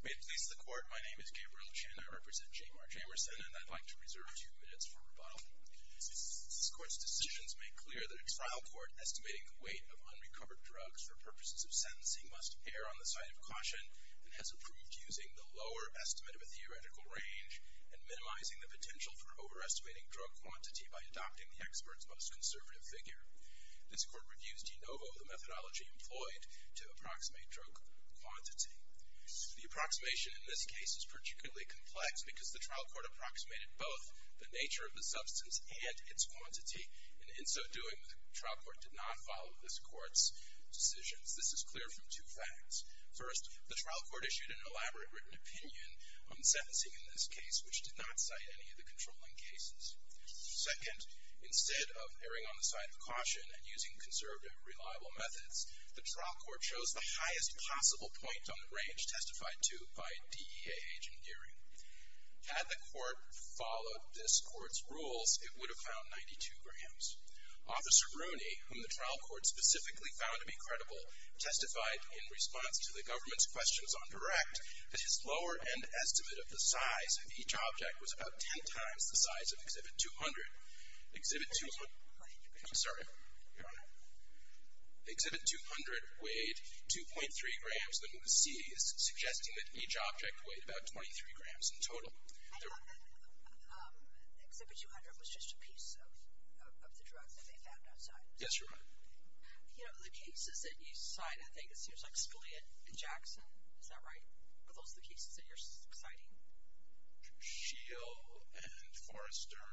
May it please the Court, my name is Gabriel Chin, I represent Jaymar Jamerson and I'd like to reserve two minutes for rebuttal. This Court's decisions make clear that a trial court estimating the weight of unrecovered drugs for purposes of sentencing must err on the side of caution and has approved using the lower estimate of a theoretical range and minimizing the potential for overestimating drug quantity by adopting the expert's most conservative figure. This Court reviews de novo the methodology employed to approximate drug quantity. The approximation in this case is particularly complex because the trial court approximated both the nature of the substance and its quantity and in so doing the trial court did not follow this Court's decisions. This is clear from two facts. First, the trial court issued an elaborate written opinion on sentencing in this case which did not cite any of the controlling cases. Second, instead of erring on the side of caution and using conserved and reliable methods, the trial court chose the highest possible point on the range testified to by DEA agent Geary. Had the court followed this Court's rules, it would have found 92 grams. Officer Rooney, whom the trial court specifically found to be credible, testified in response to the government's questions on direct that his lower end estimate of the size of each object was about 10 times the size of Exhibit 200. Exhibit 200 weighed 2.3 grams. The MOOC is suggesting that each object weighed about 23 grams in total. Exhibit 200 was just a piece of the drug that they found outside. Yes, Your Honor. You know, the cases that you cite, I think it seems like Scalia and Jackson. Is that right? Are those the cases that you're citing? Shill and Forrester.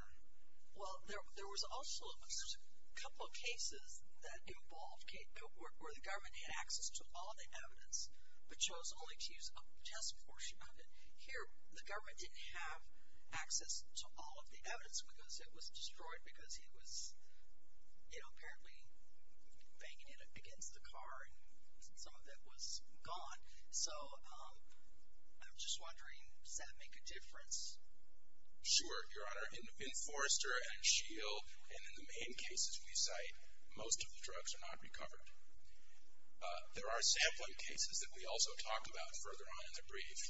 Well, there was also a couple of cases that involved, where the government had access to all of the evidence but chose only to use a just portion of it. Here, the government didn't have access to all of the evidence because it was destroyed because he was, you know, apparently banging it against the car and some of it was gone. So, I'm just wondering, does that make a difference? Sure, Your Honor. In Forrester and Shill and in the main cases we cite, most of the drugs are not recovered. There are sampling cases that we also talk about further on in the brief.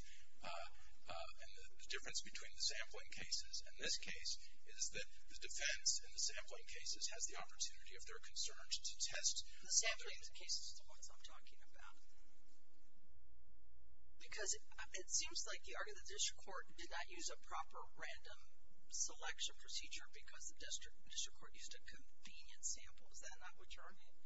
And the difference between the sampling cases in this case is that the defense in the sampling cases has the opportunity, if they're concerned, to test. The sampling cases is the ones I'm talking about. Because it seems like you argue the district court did not use a proper random selection procedure because the district court used a convenient sample. Is that not what you're arguing?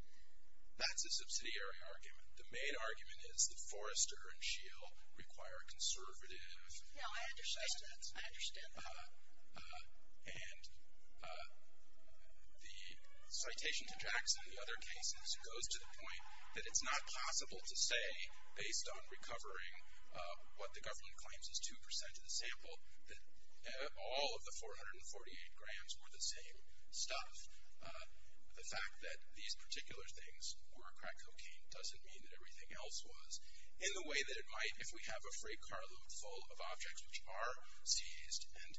That's a subsidiary argument. The main argument is that Forrester and Shill require conservative. No, I understand. I understand. And the citation to Jackson and the other cases goes to the point that it's not possible to say, based on recovering what the government claims is 2% of the sample, that all of the 448 grams were the same stuff. The fact that these particular things were crack cocaine doesn't mean that everything else was. In the way that it might, if we have a freight carload full of objects which are seized and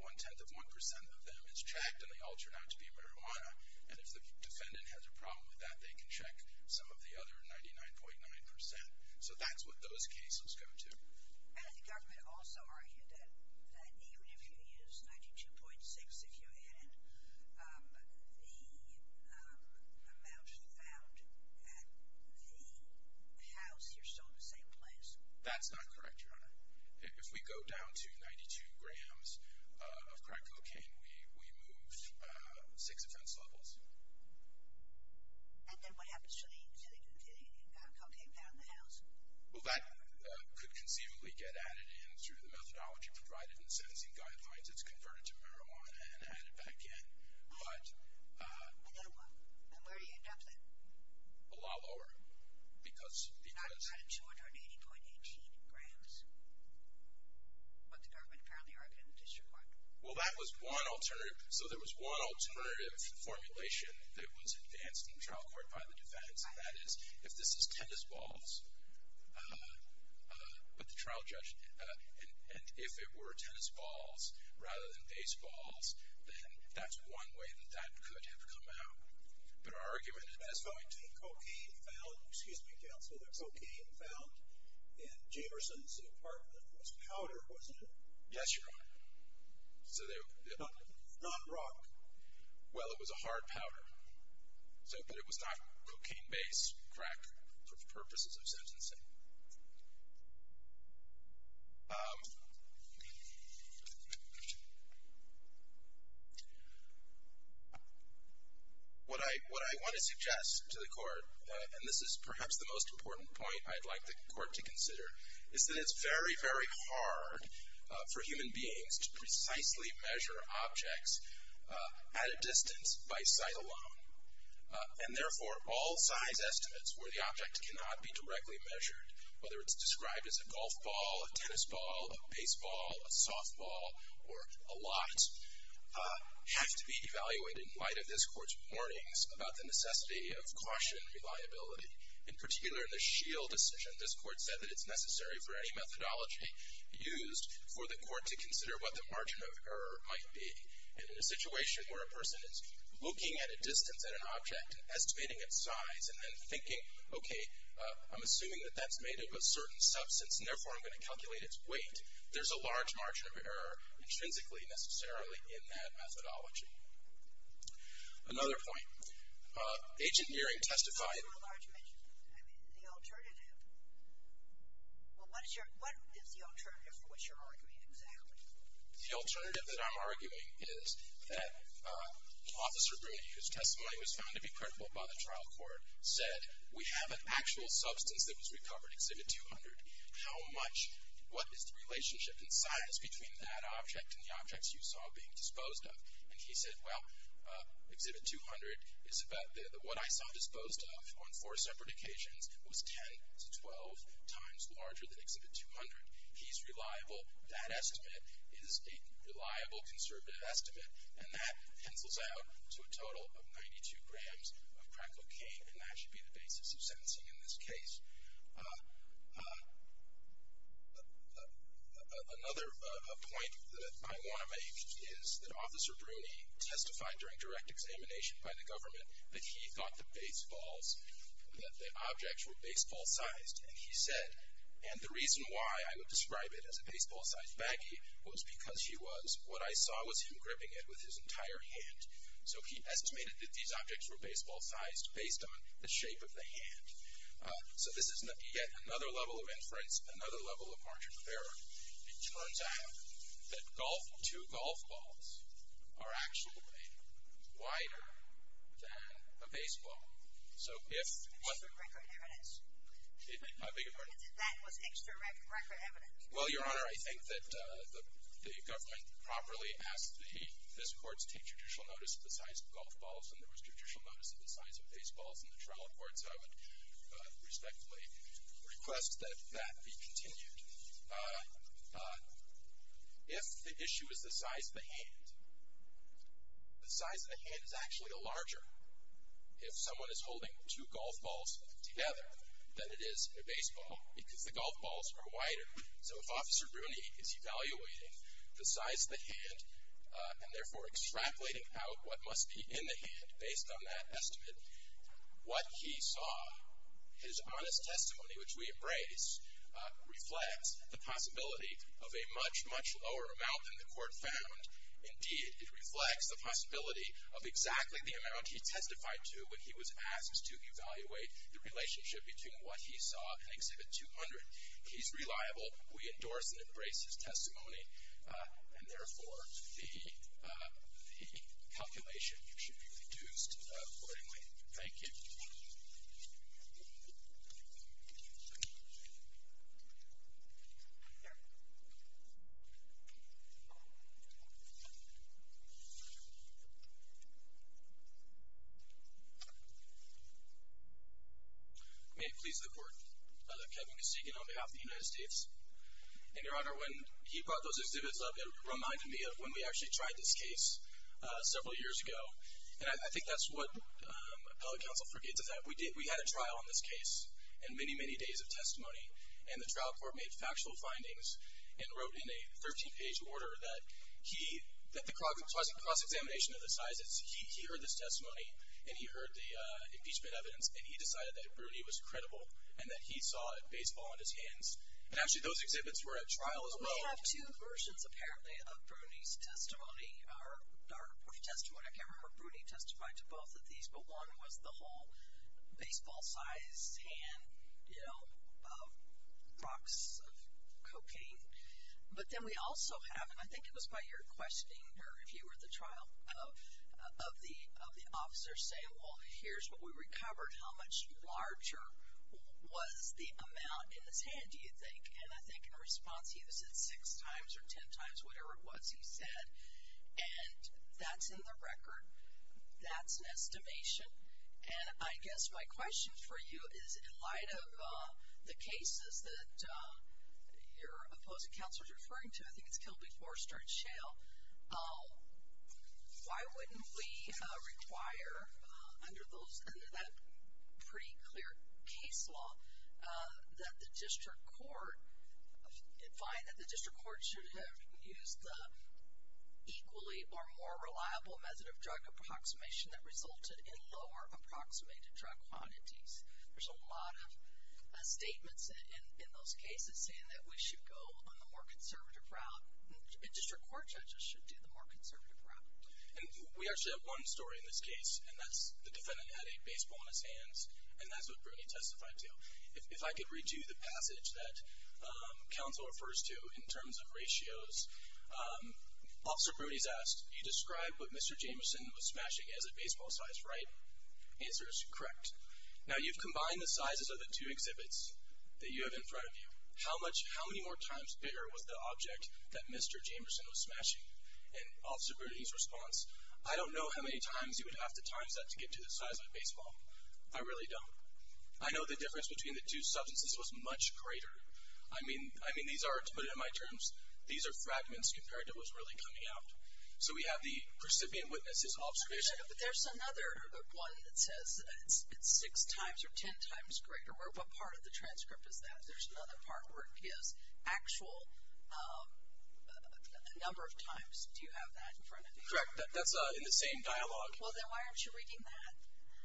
one-tenth of 1% of them is checked and they all turn out to be marijuana, and if the defendant has a problem with that, they can check some of the other 99.9%. So that's what those cases go to. And the government also argued that even if you use 92.6%, if you add in the amount found at the house, you're still in the same place. That's not correct, Your Honor. If we go down to 92 grams of crack cocaine, we moved six offense levels. And then what happens to the cocaine found in the house? Well, that could conceivably get added in through the methodology provided in the sentencing guidelines. It's converted to marijuana and added back in. But... Another one. And where do you end up then? A lot lower, because... I've got 280.18 grams, what the government currently argued in the district court. Well, that was one alternative. So there was one alternative formulation that was advanced in the trial court by the defendants, and that is if this is tennis balls, but the trial judge, and if it were tennis balls rather than baseballs, then that's one way that that could have come out. But our argument is... As far as cocaine found, excuse me, counsel, there's cocaine found in Jamerson's apartment. It was powder, wasn't it? Yes, Your Honor. So they... Not rock. Well, it was a hard powder. But it was not cocaine-based crack for purposes of sentencing. What I want to suggest to the court, and this is perhaps the most important point I'd like the court to consider, is that it's very, very hard for human beings to precisely measure objects at a distance by sight alone. And therefore, all size estimates where the object cannot be directly measured, whether it's described as a golf ball, a tennis ball, a baseball, a softball, or a lot, have to be evaluated in light of this court's warnings about the necessity of caution and reliability. In particular, in the Scheel decision, this court said that it's necessary for any methodology used for the court to consider what the margin of error might be. And in a situation where a person is looking at a distance at an object, estimating its size, and then thinking, okay, I'm assuming that that's made of a certain substance, and therefore I'm going to calculate its weight, there's a large margin of error intrinsically, necessarily, in that methodology. Another point. Agent Earing testified. I mean, the alternative. Well, what is the alternative for which you're arguing exactly? The alternative that I'm arguing is that Officer Bruni, whose testimony was found to be critical by the trial court, said, we have an actual substance that was recovered, Exhibit 200. How much, what is the relationship in size between that object and the objects you saw being disposed of? And he said, well, Exhibit 200 is about what I saw disposed of on four separate occasions was 10 to 12 times larger than Exhibit 200. He's reliable. That estimate is a reliable, conservative estimate, and that pencils out to a total of 92 grams of crack cocaine, and that should be the basis of sentencing in this case. Another point that I want to make is that Officer Bruni testified during direct examination by the government that he thought the baseballs, that the objects were baseball-sized, and he said, and the reason why I would describe it as a baseball-sized baggie was because he was, what I saw was him gripping it with his entire hand. So he estimated that these objects were baseball-sized based on the shape of the hand. So this is yet another level of inference, another level of margin of error. It turns out that two golf balls are actually wider than a baseball. So if- Extra record evidence. I beg your pardon? That was extra record evidence. Well, Your Honor, I think that the government properly asked this court to take judicial notice of the size of golf balls, and there was judicial notice of the size of baseballs in the trial court, so I would respectfully request that that be continued. If the issue is the size of the hand, the size of the hand is actually larger if someone is holding two golf balls together than it is in a baseball because the golf balls are wider. So if Officer Bruni is evaluating the size of the hand and therefore extrapolating out what must be in the hand based on that estimate, what he saw, his honest testimony, which we embrace, reflects the possibility of a much, much lower amount than the court found. Indeed, it reflects the possibility of exactly the amount he testified to when he was asked to evaluate the relationship between what he saw and Exhibit 200. He's reliable. We endorse and embrace his testimony, and therefore the calculation should be reduced accordingly. Thank you. May it please the Court that Kevin Kesegan, on behalf of the United States, and Your Honor, when he brought those exhibits up, it reminded me of when we actually tried this case several years ago, and I think that's what appellate counsel forgets is that we had a trial on this case and many, many days of testimony, and the trial court made factual findings and wrote in a 13-page order that the cross-examination of the sizes, he heard this testimony and he heard the impeachment evidence and he decided that Bruni was credible and that he saw baseball in his hands. And actually, those exhibits were at trial as well. We have two versions, apparently, of Bruni's testimony, or testimony. I can't remember if Bruni testified to both of these, but one was the whole baseball-sized hand, you know, of rocks of cocaine. But then we also have, and I think it was by your questioning, or if you were at the trial, of the officer saying, well, here's what we recovered, how much larger was the amount in his hand, do you think? And I think in response, he was at six times or ten times, whatever it was he said. And that's in the record. That's an estimation. And I guess my question for you is, in light of the cases that your opposing counsel is referring to, I think it's Kilby Forster and Shale, why wouldn't we require under that pretty clear case law that the district court find that the district court should have used the equally or more reliable method of drug approximation that resulted in lower approximated drug quantities? There's a lot of statements in those cases saying that we should go on the more conservative route and district court judges should do the more conservative route. And we actually have one story in this case, and that's the defendant had a baseball in his hands, and that's what Bruni testified to. If I could read you the passage that counsel refers to in terms of ratios, Officer Bruni's asked, you described what Mr. Jameson was smashing as a baseball size, right? The answer is correct. Now, you've combined the sizes of the two exhibits that you have in front of you. How many more times bigger was the object that Mr. Jameson was smashing? And Officer Bruni's response, I don't know how many times you would have to times that to get to the size of a baseball. I really don't. I know the difference between the two substances was much greater. I mean, these are, to put it in my terms, these are fragments compared to what's really coming out. So we have the recipient witness's observation. But there's another one that says it's six times or ten times greater. What part of the transcript is that? Because there's another part where it gives actual number of times. Do you have that in front of you? Correct. That's in the same dialogue. Well, then why aren't you reading that?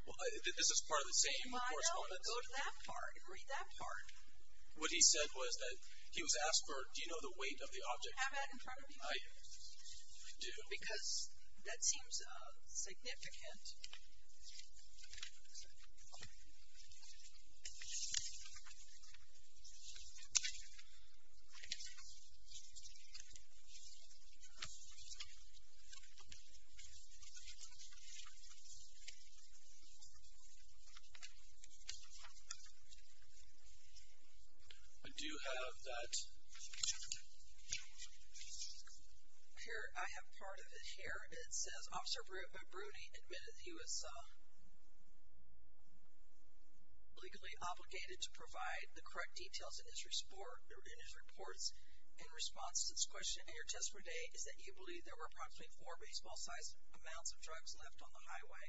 Well, this is part of the same correspondence. Well, I know, but go to that part and read that part. What he said was that he was asked for, do you know the weight of the object? Do you have that in front of you? I do. Because that seems significant. I do have that. Here, I have part of it here, and it says, Officer Bruni admitted he was legally obligated to provide the correct details in his reports. In response to this question, in your testimony today, is that you believe there were approximately four baseball-sized amounts of drugs left on the highway?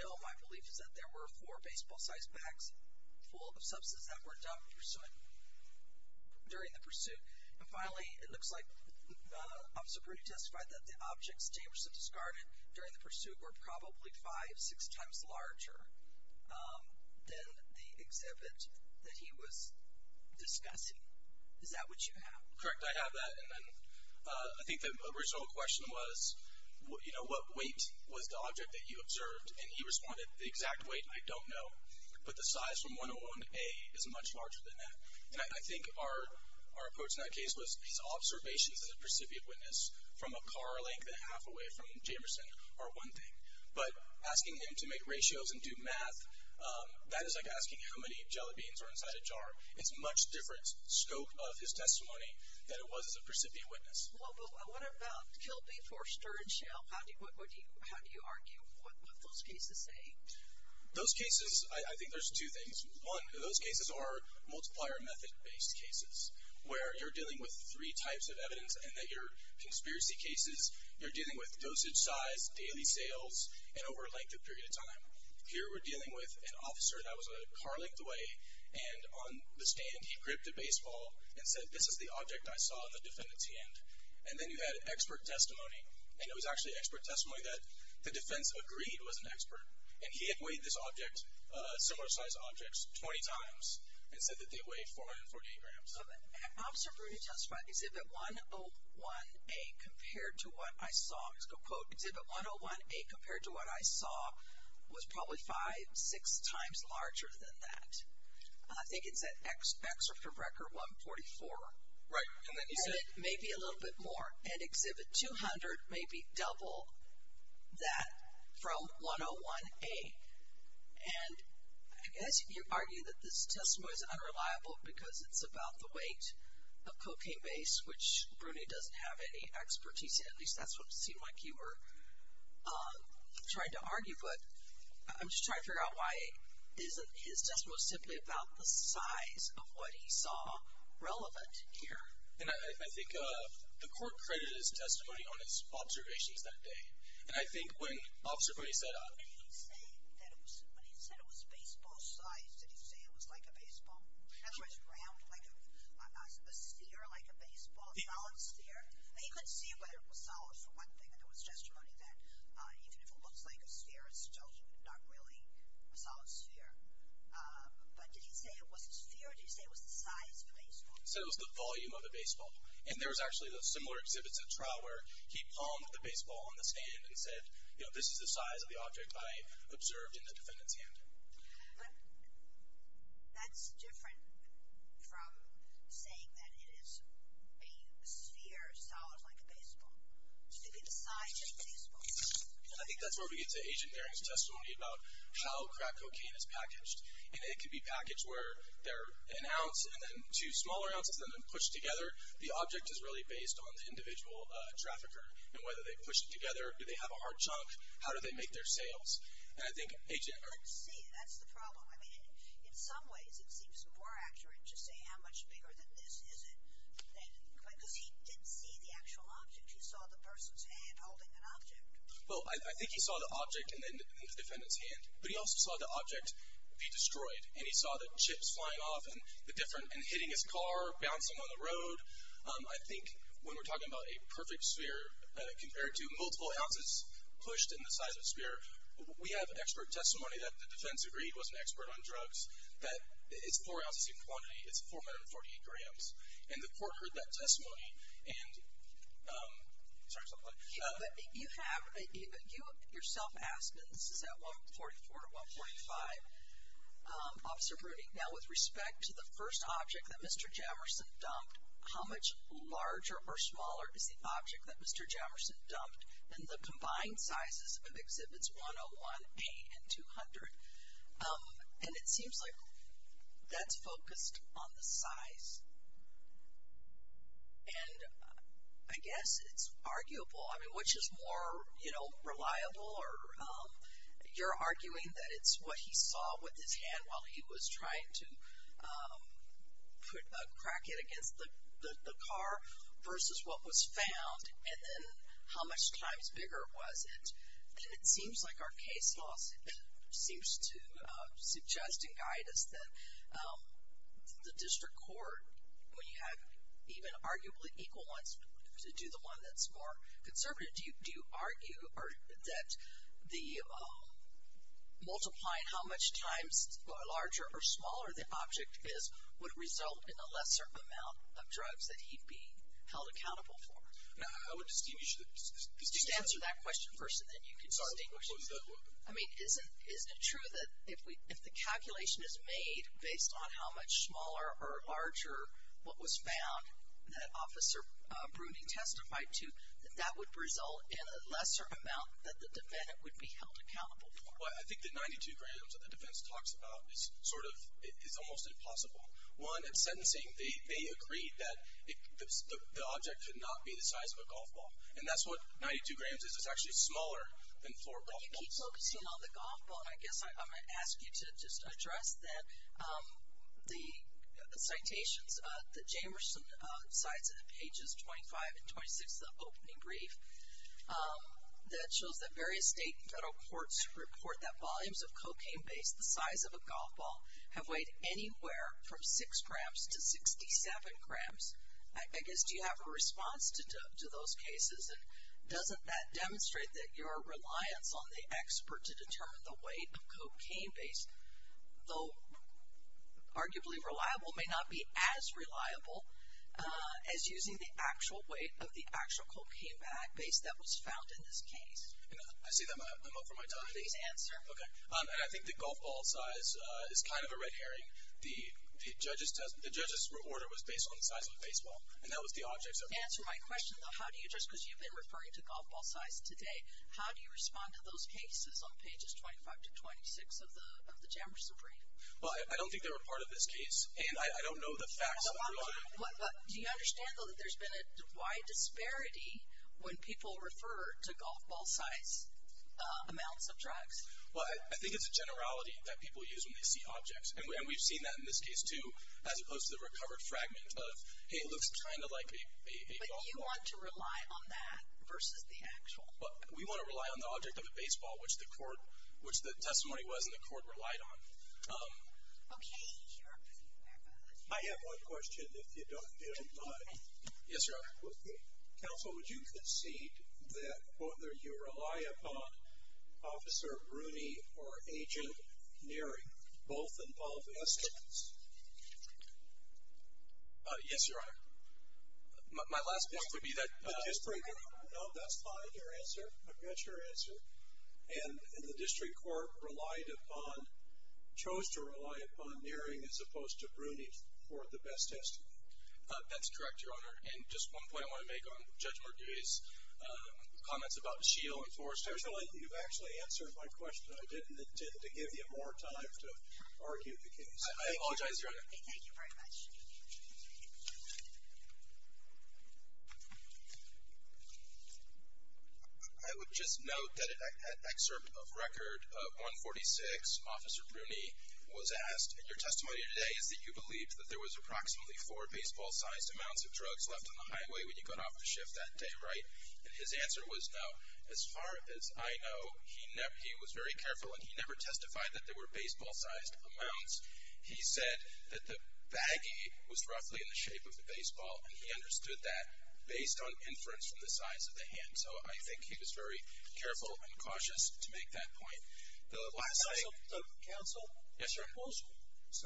No, my belief is that there were four baseball-sized bags full of substances that were dumped. During the pursuit. And finally, it looks like Officer Bruni testified that the objects Jamerson discarded during the pursuit were probably five, six times larger than the exhibit that he was discussing. Is that what you have? Correct. I have that. I think the original question was, you know, what weight was the object that you observed? And he responded, the exact weight, I don't know. But the size from 101A is much larger than that. And I think our approach in that case was his observations as a precipient witness, from a car length and a half away from Jamerson, are one thing. But asking him to make ratios and do math, that is like asking how many jelly beans are inside a jar. It's a much different scope of his testimony than it was as a precipient witness. Well, but what about killed before stirred shell? How do you argue? What do those cases say? Those cases, I think there's two things. One, those cases are multiplier method-based cases, where you're dealing with three types of evidence and that your conspiracy cases, you're dealing with dosage size, daily sales, and over a length of period of time. Here we're dealing with an officer that was a car length away, and on the stand he gripped a baseball and said, this is the object I saw in the defendant's hand. And then you had expert testimony. And it was actually expert testimony that the defense agreed was an expert. And he had weighed this object, similar-sized objects, 20 times and said that they weighed 448 grams. Officer Bruni testified, Exhibit 101A compared to what I saw, let's go quote, Exhibit 101A compared to what I saw was probably five, six times larger than that. I think it's at X or for record 144. Right. Exhibit maybe a little bit more. And Exhibit 200 maybe double that from 101A. And I guess you argue that this testimony is unreliable because it's about the weight of cocaine base, which Bruni doesn't have any expertise in. At least that's what it seemed like you were trying to argue. But I'm just trying to figure out why his testimony was simply about the size of what he saw relevant here. And I think the court credited his testimony on his observations that day. And I think when Officer Bruni said, When he said it was baseball-sized, did he say it was like a baseball? Otherwise round, like a sphere, like a baseball, a solid sphere. He couldn't see whether it was solid for one thing, but there was testimony that even if it looks like a sphere, it's still not really a solid sphere. But did he say it was a sphere or did he say it was the size of a baseball? He said it was the volume of a baseball. And there was actually similar exhibits at trial where he palmed the baseball on the stand and said, you know, this is the size of the object I observed in the defendant's hand. But that's different from saying that it is a sphere, solid, like a baseball. It should be the size of a baseball. And I think that's where we get to Agent Herring's testimony about how crack cocaine is packaged. And it could be packaged where they're an ounce and then two smaller ounces and then pushed together. The object is really based on the individual trafficker and whether they push it together. Do they have a hard chunk? How do they make their sales? Let's see. That's the problem. I mean, in some ways it seems more accurate to say how much bigger than this is it. Because he didn't see the actual object. He saw the person's hand holding an object. Well, I think he saw the object in the defendant's hand, but he also saw the object be destroyed, and he saw the chips flying off and hitting his car, bouncing on the road. I think when we're talking about a perfect sphere compared to multiple ounces pushed in the size of a sphere, we have expert testimony that the defense agreed was an expert on drugs. That it's four ounces in quantity. It's 448 grams. And the court heard that testimony. And you yourself asked that this is at 144 to 145. Officer Bruning, now with respect to the first object that Mr. Jamerson dumped, how much larger or smaller is the object that Mr. Jamerson dumped than the combined sizes of Exhibits 101A and 200? And it seems like that's focused on the size. And I guess it's arguable. I mean, which is more, you know, reliable? You're arguing that it's what he saw with his hand while he was trying to crack it against the car versus what was found, and then how much times bigger was it? And it seems like our case law seems to suggest and guide us that the district court, when you have even arguably equal ones to do the one that's more conservative, do you argue that the multiplying how much times larger or smaller the object is would result in a lesser amount of drugs that he'd be held accountable for? Now, I would distinguish. Just answer that question first, and then you can distinguish. I mean, isn't it true that if the calculation is made based on how much smaller or larger what was found that Officer Bruning testified to, that that would result in a lesser amount that the defendant would be held accountable for? Well, I think the 92 grams that the defense talks about is sort of almost impossible. One, in sentencing, they agreed that the object could not be the size of a golf ball. And that's what 92 grams is. It's actually smaller than floor golf balls. But you keep focusing on the golf ball. And I guess I might ask you to just address that the citations, the Jamerson cites in the pages 25 and 26 of the opening brief, that shows that various state and federal courts report that volumes of cocaine-based, the size of a golf ball, have weighed anywhere from 6 grams to 67 grams. I guess do you have a response to those cases? And doesn't that demonstrate that your reliance on the expert to determine the weight of cocaine-based, though arguably reliable, may not be as reliable as using the actual weight of the actual cocaine-based that was found in this case? I see that. I'm up for my time. Please answer. Okay. And I think the golf ball size is kind of a red herring. The judge's order was based on the size of a baseball. And that was the object. Answer my question, though. How do you just, because you've been referring to golf ball size today, how do you respond to those cases on pages 25 to 26 of the Jamerson brief? Well, I don't think they were part of this case, and I don't know the facts. Do you understand, though, that there's been a wide disparity when people refer to golf ball size amounts of drugs? Well, I think it's a generality that people use when they see objects. And we've seen that in this case, too, as opposed to the recovered fragment of, hey, it looks kind of like a golf ball. But you want to rely on that versus the actual. We want to rely on the object of a baseball, which the testimony was and the court relied on. Okay. I have one question, if you don't mind. Yes, Your Honor. Counsel, would you concede that whether you rely upon Officer Rooney or Agent Neary, both involve eskimos? Yes, Your Honor. My last point would be that. No, that's fine, your answer. I've got your answer. And the district court relied upon, chose to rely upon Neary as opposed to Rooney for the best testimony. That's correct, Your Honor. And just one point I want to make on Judge Murduey's comments about Shiel and Forster. You've actually answered my question. I didn't intend to give you more time to argue the case. I apologize, Your Honor. Thank you very much. I would just note that in an excerpt of record of 146, Officer Rooney was asked, your testimony today is that you believed that there was approximately four baseball-sized amounts of drugs left on the highway when you got off the shift that day, right? And his answer was no. As far as I know, he was very careful, and he never testified that there were baseball-sized amounts. He said that the baggie was roughly in the shape of the baseball, and he understood that based on inference from the size of the hand. So I think he was very careful and cautious to make that point. The last thing. Counsel? Yes, sir.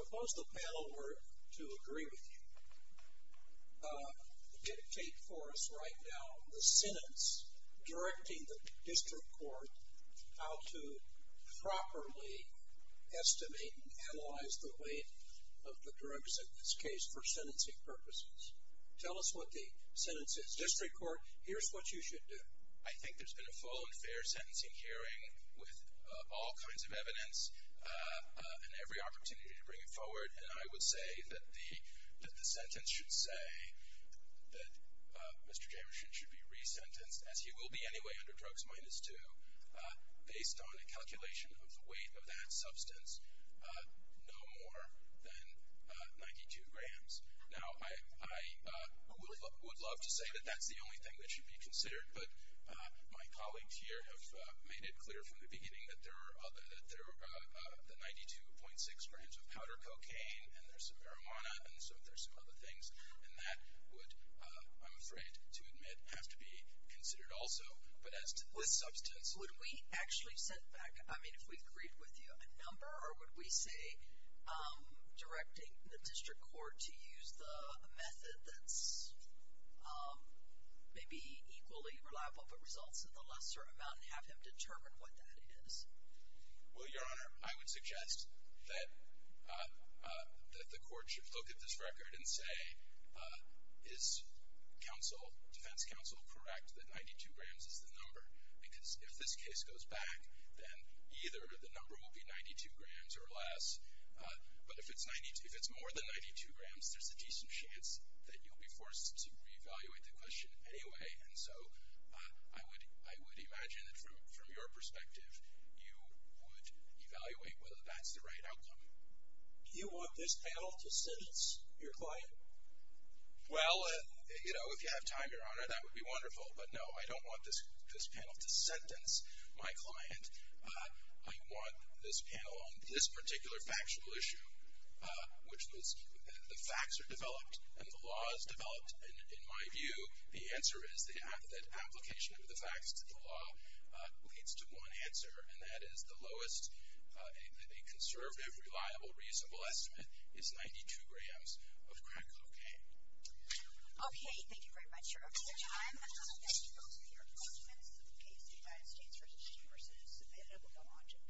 Suppose the panel were to agree with you, dictate for us right now the sentence directing the district court how to properly estimate and analyze the weight of the drugs in this case for this case. Tell us what the sentence is. District court, here's what you should do. I think there's been a full and fair sentencing hearing with all kinds of evidence and every opportunity to bring it forward, and I would say that the sentence should say that Mr. Jamieson should be resentenced, as he will be anyway under drugs minus two, based on a calculation of the weight of that substance, no more than 92 grams. Now, I would love to say that that's the only thing that should be considered, but my colleagues here have made it clear from the beginning that there are the 92.6 grams of powder cocaine, and there's some marijuana, and so there's some other things, and that would, I'm afraid to admit, have to be considered also. But as to the substance, would we actually set back, I mean, if we agreed with you, a number, or would we say directing the district court to use a method that's maybe equally reliable but results in a lesser amount and have him determine what that is? Well, Your Honor, I would suggest that the court should look at this record and say, is defense counsel correct that 92 grams is the number? Because if this case goes back, then either the number will be 92 grams or less, but if it's more than 92 grams, there's a decent chance that you'll be forced to reevaluate the question anyway. And so I would imagine that from your perspective, you would evaluate whether that's the right outcome. Do you want this panel to sentence your client? Well, you know, if you have time, Your Honor, that would be wonderful. But, no, I don't want this panel to sentence my client. I want this panel on this particular factual issue, which is the facts are developed and the law is developed. In my view, the answer is that application of the facts to the law leads to one answer, and that is the lowest, a conservative, reliable, reasonable estimate is 92 grams of crack cocaine. Okay, thank you very much, Your Honor. At this time, I'd like to invite you to go to your appointments if the case of the United States vs. New Jersey is submitted.